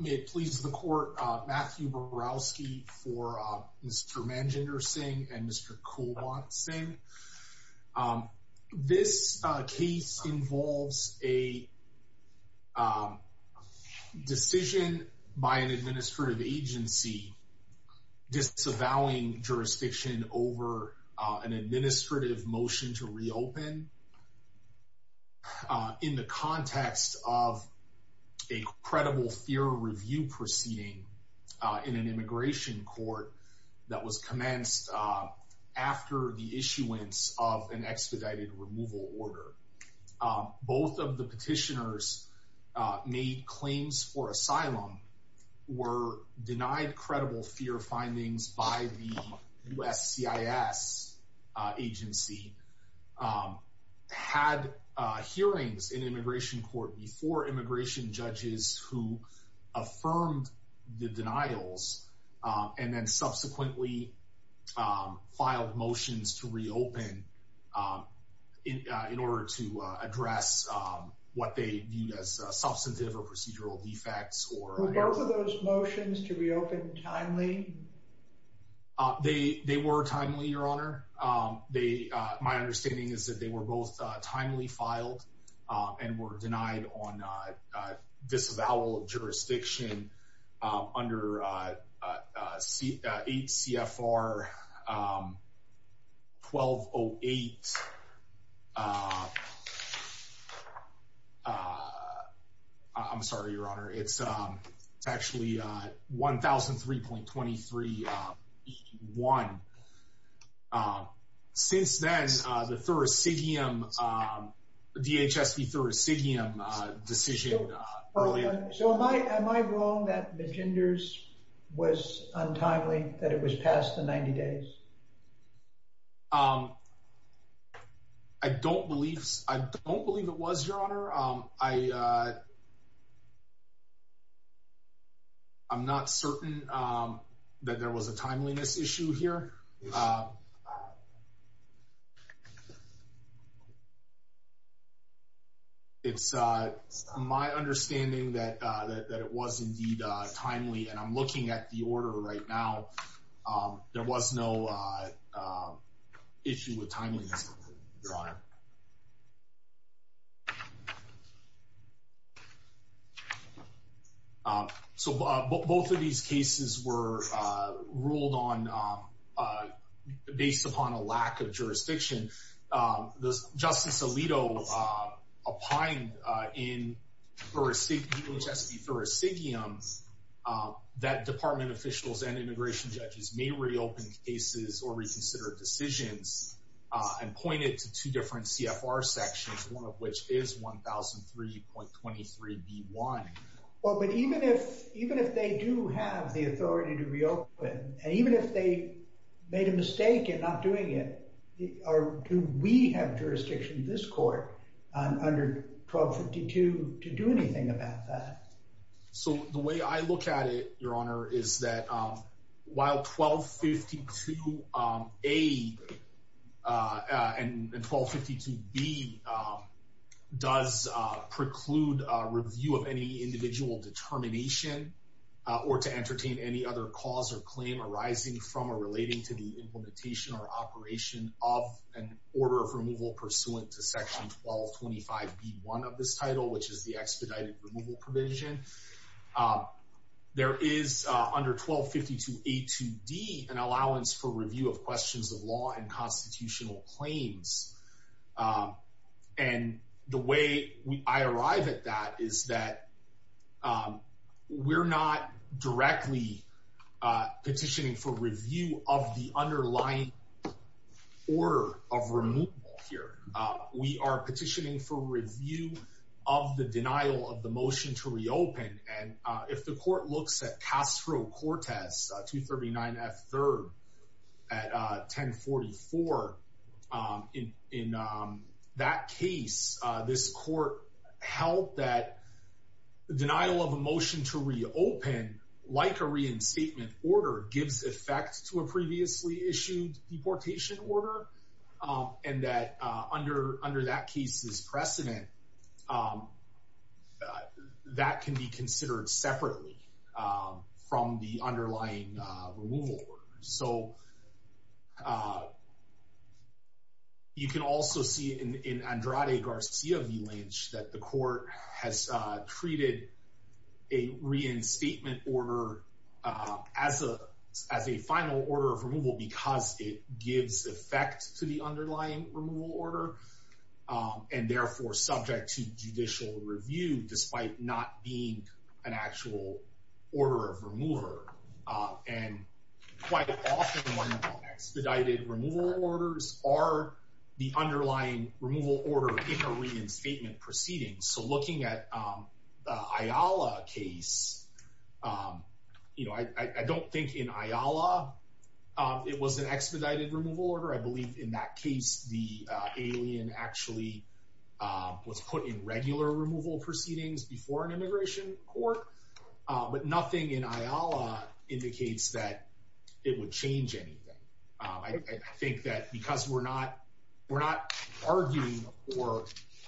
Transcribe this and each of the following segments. May it please the court, Matthew Borowski for Mr. Manjinder Singh and Mr. Kulwant Singh. This case involves a decision by an administrative agency disavowing jurisdiction over an administrative motion to reopen in the context of a credible fear review proceeding in an immigration court that was commenced after the issuance of an expedited removal order. Both of the petitioners made claims for asylum, were denied credible fear findings by the USCIS agency, had hearings in immigration court before immigration judges who affirmed the denials and then subsequently filed motions to reopen in order to address what they viewed as substantive or procedural defects. Were both of those motions to reopen timely? They were timely, your honor. My understanding is that they were both timely filed and were denied on disavowal of jurisdiction under 8 CFR 1208. I'm sorry, your honor. It's actually 1003.23.1. Since then, the thoracicium, DHSC thoracicium decision. So am I wrong that Manjinder's was untimely, that it was past the 90 days? I don't believe it was, your honor. I'm not certain that there was a timeliness issue here. It's my understanding that it was indeed timely and I'm looking at the order right now. There was no issue with timeliness, your honor. So both of these cases were ruled on based upon a lack of jurisdiction. Well, but even if they do have the authority to reopen, and even if they made a mistake in not doing it, do we have jurisdiction in this court under 1252 to do anything about that? So the way I look at it, your honor, is that while 1252A and 1252B does preclude review of any individual determination or to entertain any other cause or claim arising from or relating to the implementation or operation of an order of removal pursuant to section 1225B1 of this title, which is the expedited removal provision, there is under 1252A2D an allowance for review of questions of law and constitutional claims. And the way I arrive at that is that we're not directly petitioning for review of the underlying order of removal here. And in that case, this court held that the denial of a motion to reopen, like a reinstatement order, gives effect to a previously issued deportation order and that under that case's precedent, that can be considered separately from the underlying removal order. So you can also see in Andrade Garcia v. Lynch that the court has treated a reinstatement order as a final order of removal because it gives effect to the underlying removal order and therefore subject to judicial review despite not being an actual order of remover. And quite often when expedited removal orders are the underlying removal order in a reinstatement proceeding, so looking at the Ayala case, you know, I don't think in Ayala it was an expedited removal order. I believe in that case the alien actually was put in regular removal proceedings before an immigration court, but nothing in Ayala indicates that it would change anything. I think that because we're not arguing for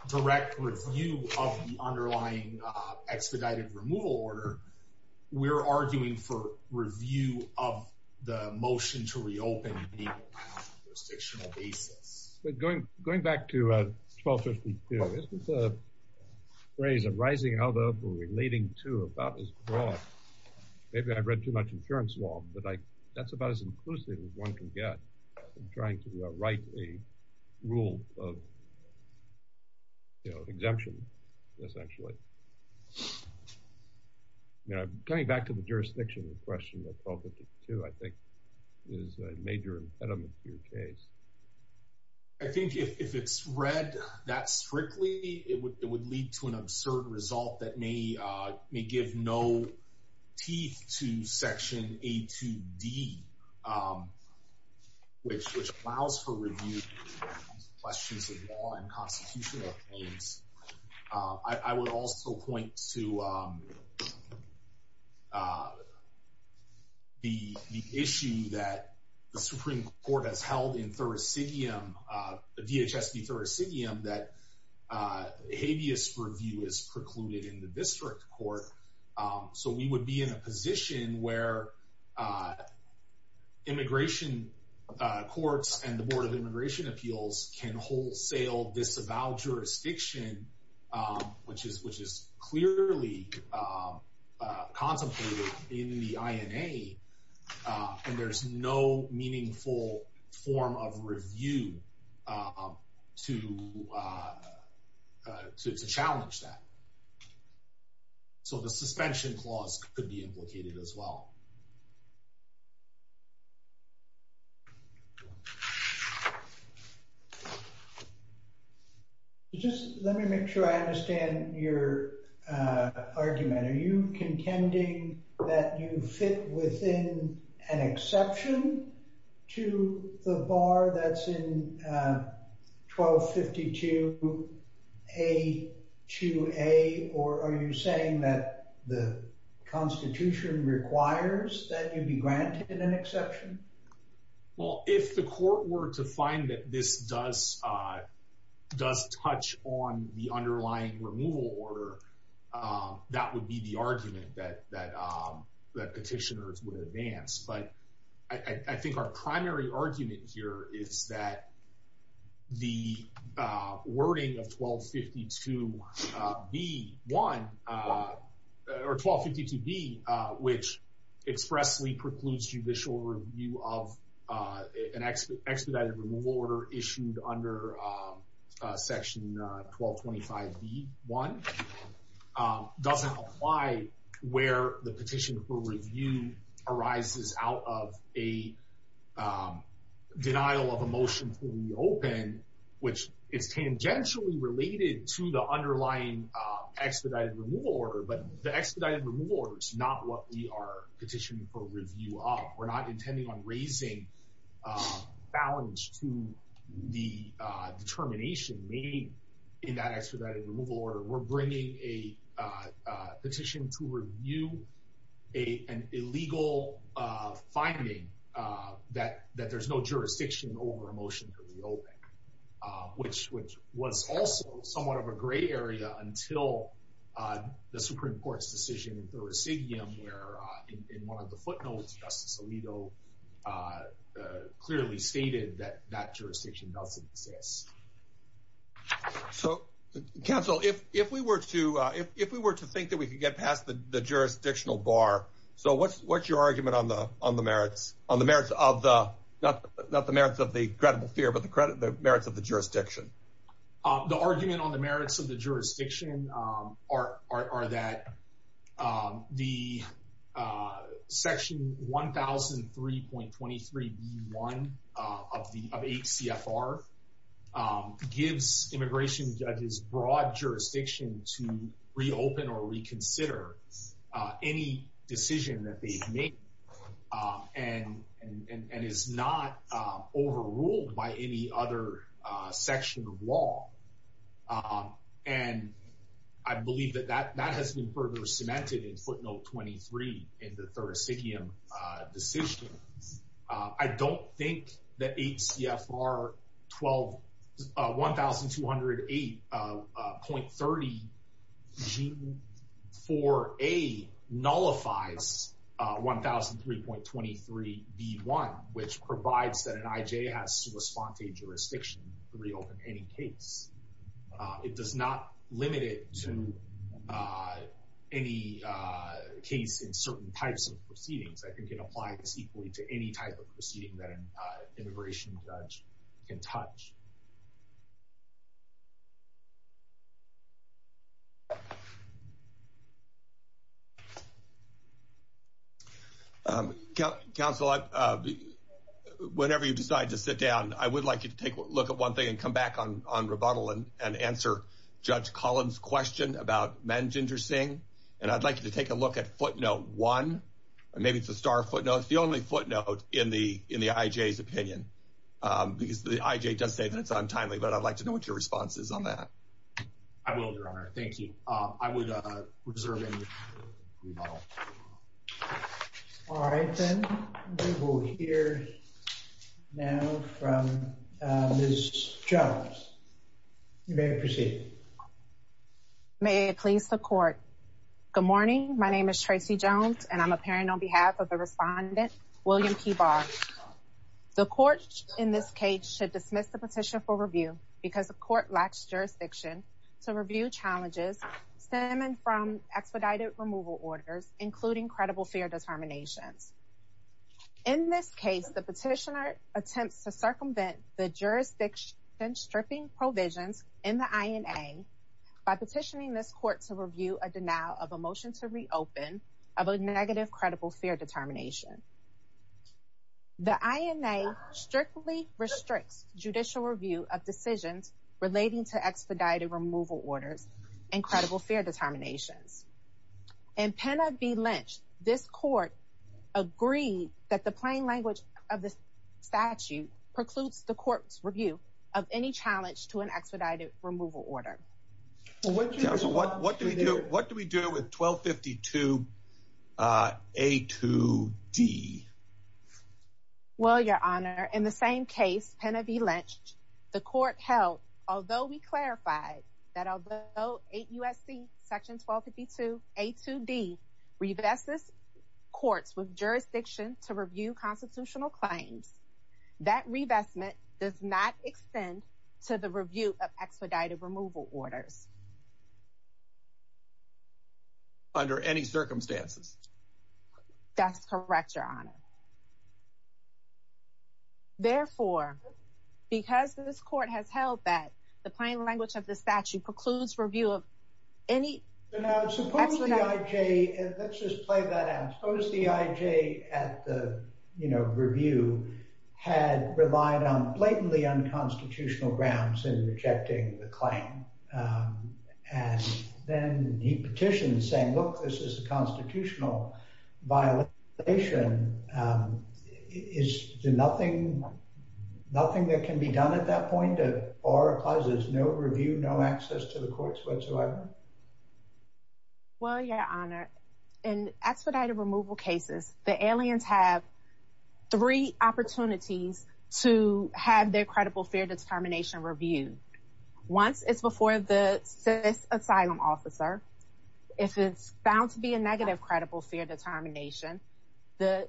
direct review of the underlying expedited removal order, we're arguing for review of the motion to reopen on a jurisdictional basis. But going back to 1252, isn't the phrase arising out of or relating to about as broad, maybe I've read too much insurance law, but that's about as inclusive as one can get in trying to write a rule of, you know, exemption, essentially. But coming back to the jurisdiction, the question of 1252 I think is a major impediment to your case. I think if it's read that strictly, it would lead to an absurd result that may give no teeth to Section A2D, which allows for review of questions of law and constitutional claims. I would also point to the issue that the Supreme Court has held in thursidium, DHS v. thursidium, that habeas review is precluded in the district court. So we would be in a position where immigration courts and the Board of Immigration Appeals can wholesale this avowed jurisdiction, which is clearly contemplated in the INA, and there's no meaningful form of review to challenge that. So a suspension clause could be implicated as well. Just let me make sure I understand your argument, are you contending that you fit within an exception to the bar that's in 1252 A2A, or are you saying that the Constitution requires that you be granted an exception? Well, if the court were to find that this does touch on the underlying removal order, that would be the argument that petitioners would advance. But I think our primary argument here is that the wording of 1252 B1, or 1252 B, which expressly precludes judicial review of an expedited removal order issued under Section 1225 B1, doesn't apply where the petition for review arises out of a denial of a motion to reopen, which is tangentially related to the underlying expedited removal order, but the expedited removal order is not what we are petitioning for review of. We're not intending on raising balance to the determination made in that expedited removal order, we're bringing a petition to review an illegal finding that there's no jurisdiction over a motion to reopen, which was also somewhat of a gray area until the Supreme Court's decision in Thursidium, where in one of the footnotes, Justice Alito clearly stated that that jurisdiction doesn't exist. So, counsel, if we were to think that we could get past the jurisdictional bar, so what's your argument on the merits, not the merits of the credible fear, but the merits of the jurisdiction? The argument on the merits of the jurisdiction are that the Section 1003.23 B1 of 8 CFR gives immigration judges broad jurisdiction to reopen or reconsider any decision that they've made, and is not overruled by any other section of law, and I believe that that has been further cemented in footnote 23 in the Thursidium decision. I don't think that 8 CFR 1208.30 G4A nullifies 1003.23 B1, which provides that an IJ has to respond to a jurisdiction to reopen any case. It does not limit it to any case in certain types of proceedings. I think it applies equally to any type of proceeding that an immigration judge can touch. Counsel, whenever you decide to sit down, I would like you to take a look at one thing and come back on rebuttal and answer Judge Collins' question about Manjinder Singh. And I'd like you to take a look at footnote 1, maybe it's the star footnote, it's the only footnote in the IJ's opinion, because the IJ does say that it's untimely, but I'd like to know what your response is on that. I will, Your Honor. Thank you. I would reserve any rebuttal. All right, then we will hear now from Ms. Jones. You may proceed. May it please the Court. Good morning. My name is Tracy Jones, and I'm appearing on behalf of the respondent, William Kibar. The Court, in this case, should dismiss the petition for review because the Court lacks jurisdiction to review challenges stemming from expedited removal orders, including credible fear determinations. In this case, the petitioner attempts to circumvent the jurisdiction stripping provisions in the INA by petitioning this Court to review a denial of a motion to reopen of a negative credible fear determination. The INA strictly restricts judicial review of decisions relating to expedited removal orders and credible fear determinations. In Pena v. Lynch, this Court agreed that the plain language of the statute precludes the Court's review of any challenge to an expedited removal order. Counsel, what do we do with 1252A2D? Well, Your Honor, in the same case, Pena v. Lynch, the Court held, although we clarified that although 8 U.S.C. § 1252A2D revests this Court's jurisdiction to review constitutional claims, that revestment does not extend to the review of expedited removal orders. Under any circumstances? That's correct, Your Honor. Therefore, because this Court has held that the plain language of the statute precludes review of any... Now, suppose the IJ, let's just play that out, suppose the IJ at the, you know, review had relied on blatantly unconstitutional grounds in rejecting the claim. And then he petitions saying, look, this is a constitutional violation. Is there nothing that can be done at that point? Or it implies there's no review, no access to the courts whatsoever? Well, Your Honor, in expedited removal cases, the aliens have three opportunities to have their credible fear determination reviewed. Once it's before the CIS asylum officer, if it's found to be a negative credible fear determination, the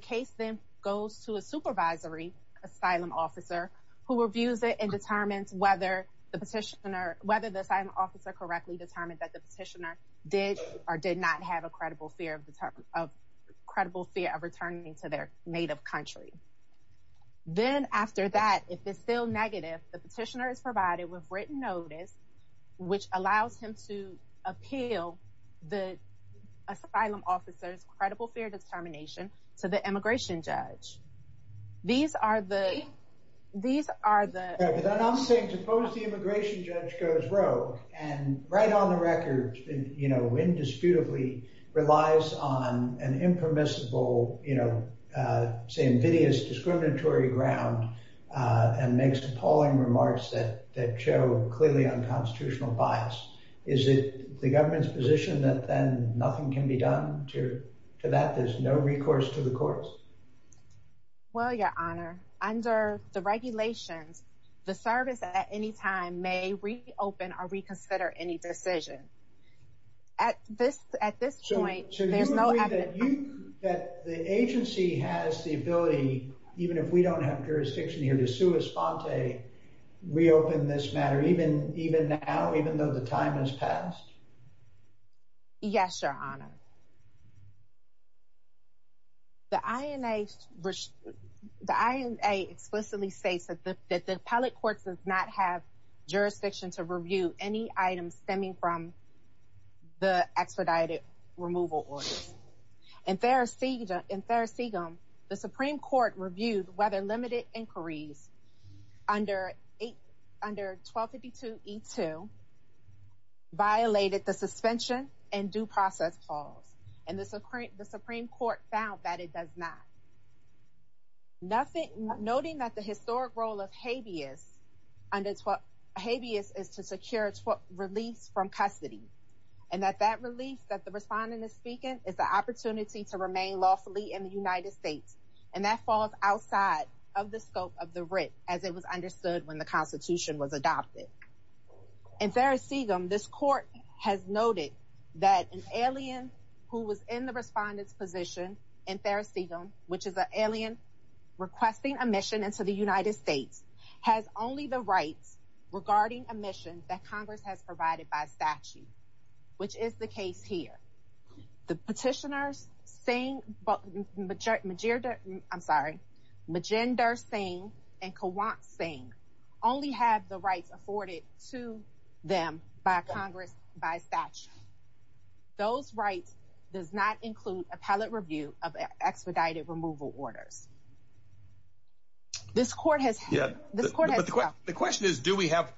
case then goes to a supervisory asylum officer who reviews it and determines whether the petitioner, whether the asylum officer correctly determined that the petitioner did or did not have a credible fear of returning to their native country. Then after that, if it's still negative, the petitioner is provided with written notice, which allows him to appeal the asylum officer's credible fear determination to the immigration judge. These are the... I'm saying suppose the immigration judge goes rogue and right on the record, you know, indisputably relies on an impermissible, you know, say invidious discriminatory ground and makes appalling remarks that show clearly unconstitutional bias. Is it the government's position that then nothing can be done to that? There's no recourse to the courts? Well, Your Honor, under the regulations, the service at any time may reopen or reconsider any decision. At this point, there's no evidence... So you agree that the agency has the ability, even if we don't have jurisdiction here, to sue Esponte, reopen this matter, even now, even though the time has passed? Yes, Your Honor. The INA explicitly states that the appellate court does not have jurisdiction to review any items stemming from the expedited removal orders. In Therese Seagum, the Supreme Court reviewed whether limited inquiries under 1252E2 violated the suspension and due process clause, and the Supreme Court found that it does not. Noting that the historic role of habeas is to secure release from custody, and that that relief that the respondent is speaking is the opportunity to remain lawfully in the United States, and that falls outside of the scope of the writ, as it was understood when the Constitution was adopted. In Therese Seagum, this court has noted that an alien who was in the respondent's position in Therese Seagum, which is an alien requesting admission into the United States, has only the rights regarding admission that Congress has provided by statute, which is the case here. The petitioners, Majinder Singh and Kawant Singh, only have the rights afforded to them by Congress by statute. Those rights does not include appellate review of expedited removal orders. The question is, do we have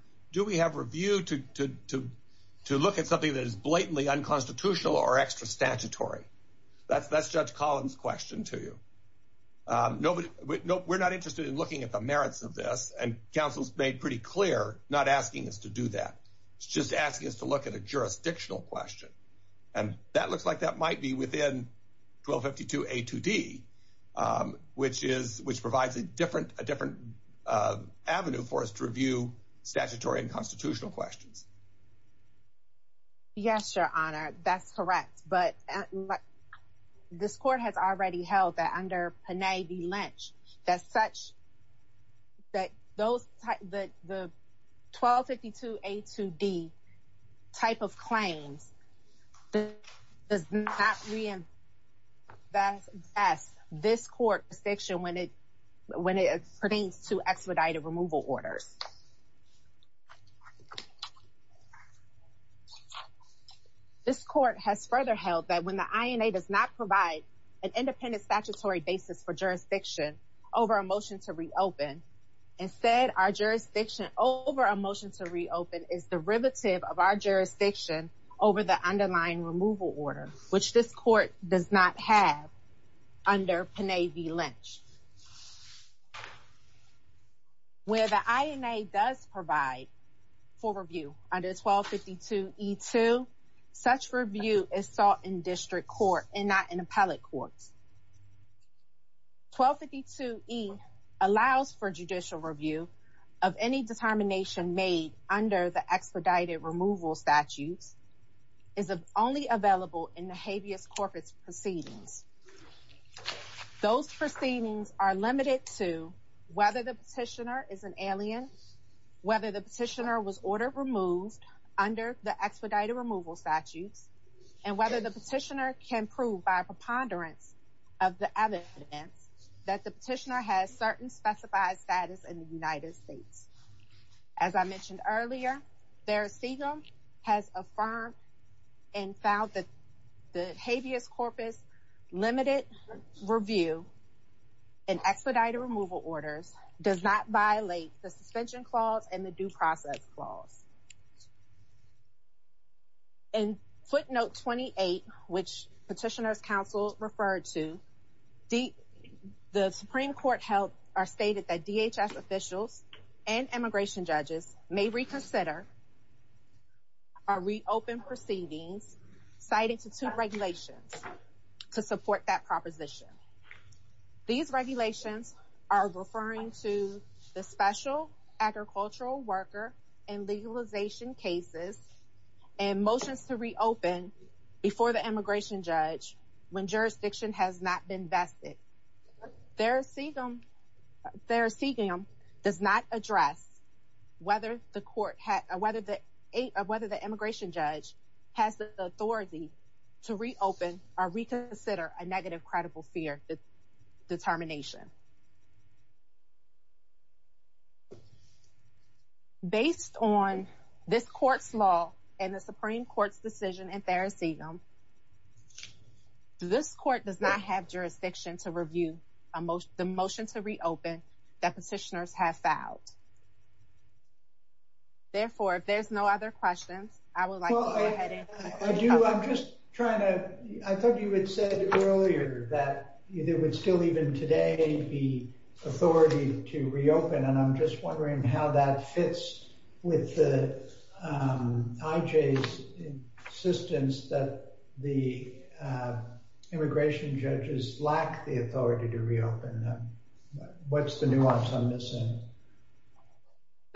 review to look at something that is blatantly unconstitutional or extra statutory? That's Judge Collins' question to you. We're not interested in looking at the merits of this, and counsel's made pretty clear not asking us to do that. It's just asking us to look at a jurisdictional question, and that looks like that might be within 1252A2D, which provides a different avenue for us to review statutory and constitutional questions. Yes, Your Honor, that's correct, but this court has already held that under Panay v. Lynch, the 1252A2D type of claims does not reinforce this court's position when it pertains to expedited removal orders. This court has further held that when the INA does not provide an independent statutory basis for jurisdiction over a motion to reopen, instead our jurisdiction over a motion to reopen is derivative of our jurisdiction over the underlying removal order, which this court does not have under Panay v. Lynch. Where the INA does provide for review under 1252E2, such review is sought in district court and not in appellate courts. 1252E allows for judicial review of any determination made under the expedited removal statutes is only available in the habeas corpus proceedings. Those proceedings are limited to whether the petitioner is an alien, whether the petitioner was order removed under the expedited removal statutes, and whether the petitioner can prove by preponderance of the evidence that the petitioner has certain specified status in the United States. As I mentioned earlier, Daris Segal has affirmed and found that the habeas corpus limited review and expedited removal orders does not violate the suspension clause and the due process clause. In footnote 28, which petitioner's counsel referred to, the Supreme Court held or stated that DHS officials and immigration judges may reconsider or reopen proceedings cited to two regulations to support that proposition. These regulations are referring to the special agricultural worker and legalization cases and motions to reopen before the immigration judge when jurisdiction has not been vested. Daris Segal does not address whether the immigration judge has the authority to reopen or reconsider a negative credible fear determination. Based on this court's law and the Supreme Court's decision in Daris Segal, this court does not have jurisdiction to review the motion to reopen that petitioners have filed. Therefore, if there's no other questions, I would like to go ahead and- The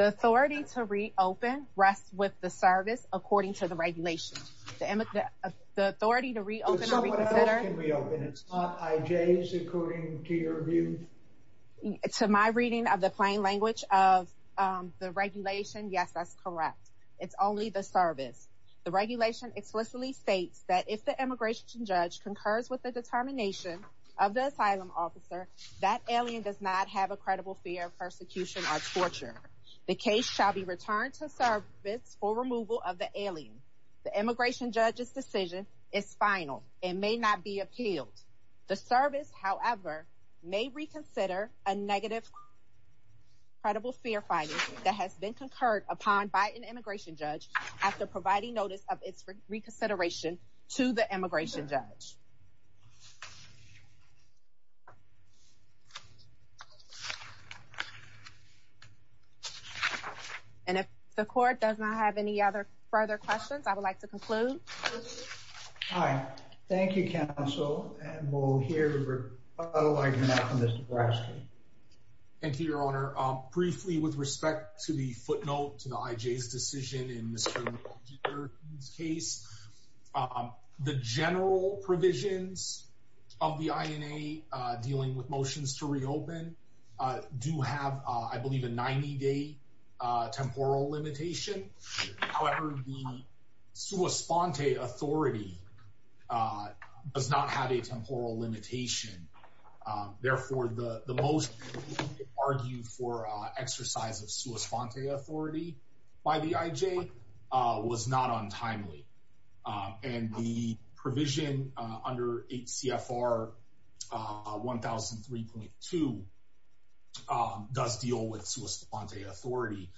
authority to reopen rests with the service according to the regulations. The authority to reopen or reconsider- It's not IJs according to your view? To my reading of the plain language of the regulation, yes, that's correct. It's only the service. The regulation explicitly states that if the immigration judge concurs with the determination of the asylum officer, that alien does not have a credible fear of persecution or torture. The case shall be returned to service for removal of the alien. The immigration judge's decision is final and may not be appealed. The service, however, may reconsider a negative credible fear finding that has been concurred upon by an immigration judge after providing notice of its reconsideration to the immigration judge. And if the court does not have any other further questions, I would like to conclude. All right. Thank you, counsel. And we'll hear from Mr. Brasky. Thank you, Your Honor. Briefly, with respect to the footnote to the IJ's decision in Mr. McIntyre's case, the general provisions of the INA dealing with motions to reopen do have, I believe, a 90-day temporal limitation. However, the sua sponte authority does not have a temporal limitation. Therefore, the most argued for exercise of sua sponte authority by the IJ was not untimely. And the provision under HCFR 1003.2 does deal with sua sponte authority,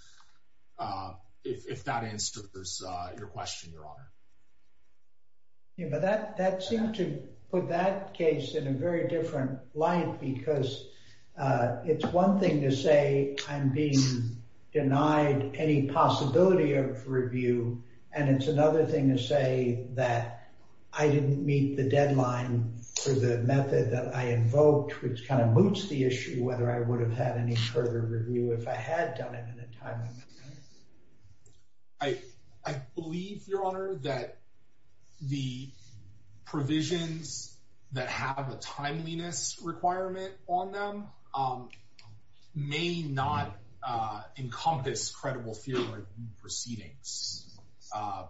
if that answers your question, Your Honor. But that seemed to put that case in a very different light, because it's one thing to say I'm being denied any possibility of review. And it's another thing to say that I didn't meet the deadline for the method that I invoked, which kind of moots the issue whether I would have had any further review if I had done it in a timely manner. I believe, Your Honor, that the provisions that have a timeliness requirement on them may not encompass credible fear of new proceedings. I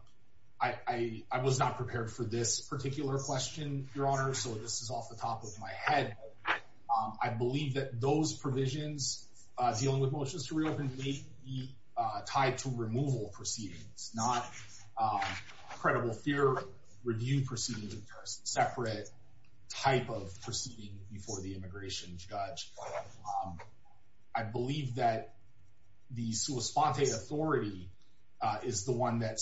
was not prepared for this particular question, Your Honor, so this is off the top of my head. I believe that those provisions dealing with motions to reopen may be tied to removal proceedings, not credible fear review proceedings, a separate type of proceeding before the immigration judge. I believe that the sua sponte authority is the one that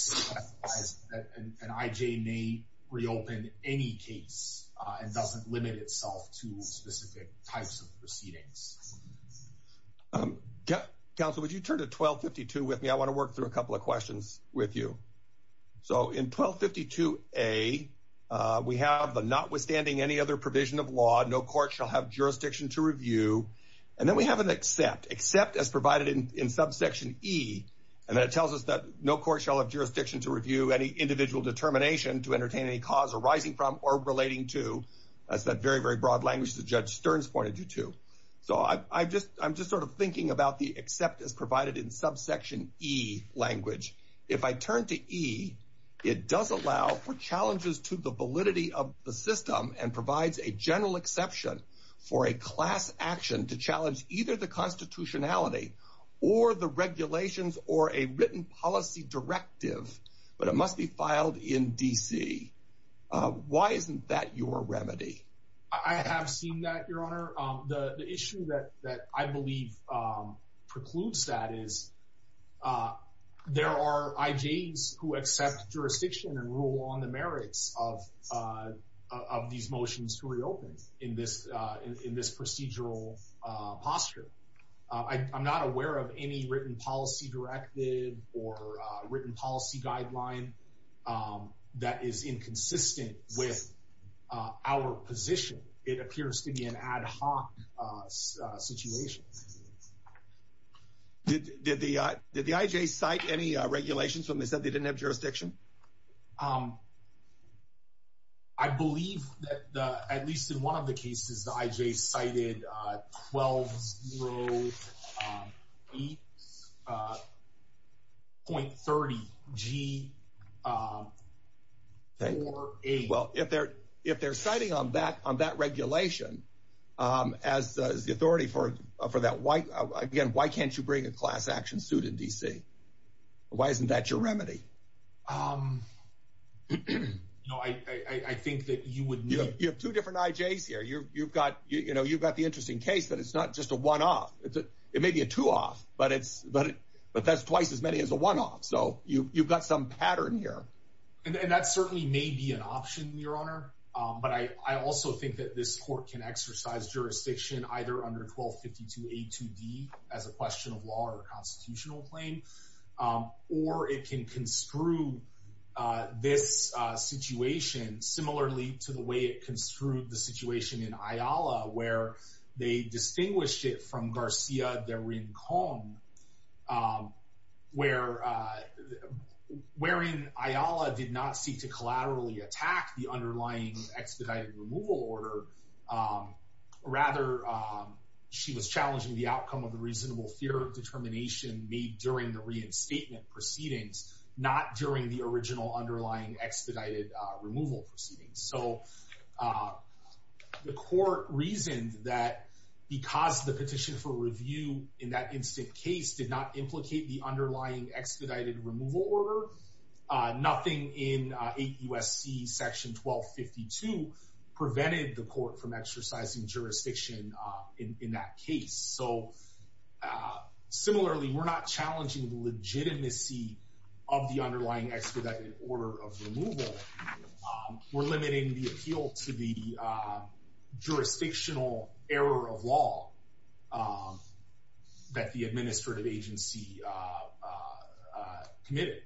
an IJ may reopen any case and doesn't limit itself to specific types of proceedings. Counsel, would you turn to 1252 with me? I want to work through a couple of questions with you. So in 1252A, we have the notwithstanding any other provision of law, no court shall have jurisdiction to review. And then we have an except, except as provided in subsection E. And that tells us that no court shall have jurisdiction to review any individual determination to entertain any cause arising from or relating to. That's that very, very broad language that Judge Stearns pointed you to. So I'm just sort of thinking about the except as provided in subsection E language. If I turn to E, it does allow for challenges to the validity of the system and provides a general exception for a class action to challenge either the constitutionality or the regulations or a written policy directive. But it must be filed in D.C. Why isn't that your remedy? I have seen that, Your Honor. The issue that I believe precludes that is there are IJs who accept jurisdiction and rule on the merits of these motions to reopen in this procedural posture. I'm not aware of any written policy directive or written policy guideline that is inconsistent with our position. It appears to be an ad hoc situation. Did the IJ cite any regulations when they said they didn't have jurisdiction? I believe that, at least in one of the cases, the IJ cited 1208.30G.48. Well, if they're citing on that regulation as the authority for that, again, why can't you bring a class action suit in D.C.? Why isn't that your remedy? You know, I think that you would need... You have two different IJs here. You've got the interesting case that it's not just a one-off. It may be a two-off, but that's twice as many as a one-off. So you've got some pattern here. And that certainly may be an option, Your Honor. But I also think that this court can exercise jurisdiction either under 1252A.2.D. as a question of law or constitutional claim, or it can construe this situation similarly to the way it construed the situation in Ayala, where they distinguished it from Garcia de Rincon, where in Ayala did not seek to collaterally attack the underlying expedited removal order. Rather, she was challenging the outcome of the reasonable fear of determination made during the reinstatement proceedings, not during the original underlying expedited removal proceedings. So the court reasoned that because the petition for review in that instant case did not implicate the underlying expedited removal order, nothing in 8 U.S.C. section 1252 prevented the court from exercising jurisdiction in that case. So similarly, we're not challenging the legitimacy of the underlying expedited order of removal. We're limiting the appeal to the jurisdictional error of law that the administrative agency committed.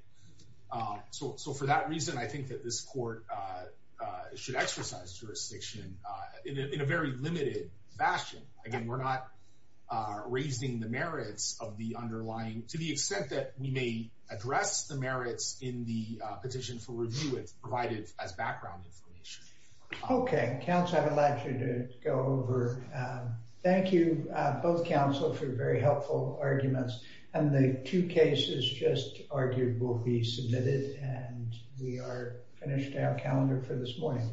So for that reason, I think that this court should exercise jurisdiction in a very limited fashion. Again, we're not raising the merits of the underlying, to the extent that we may address the merits in the petition for review, it's provided as background information. Okay, counsel, I've allowed you to go over. Thank you, both counsel, for very helpful arguments. And the two cases just argued will be submitted, and we are finished our calendar for this morning.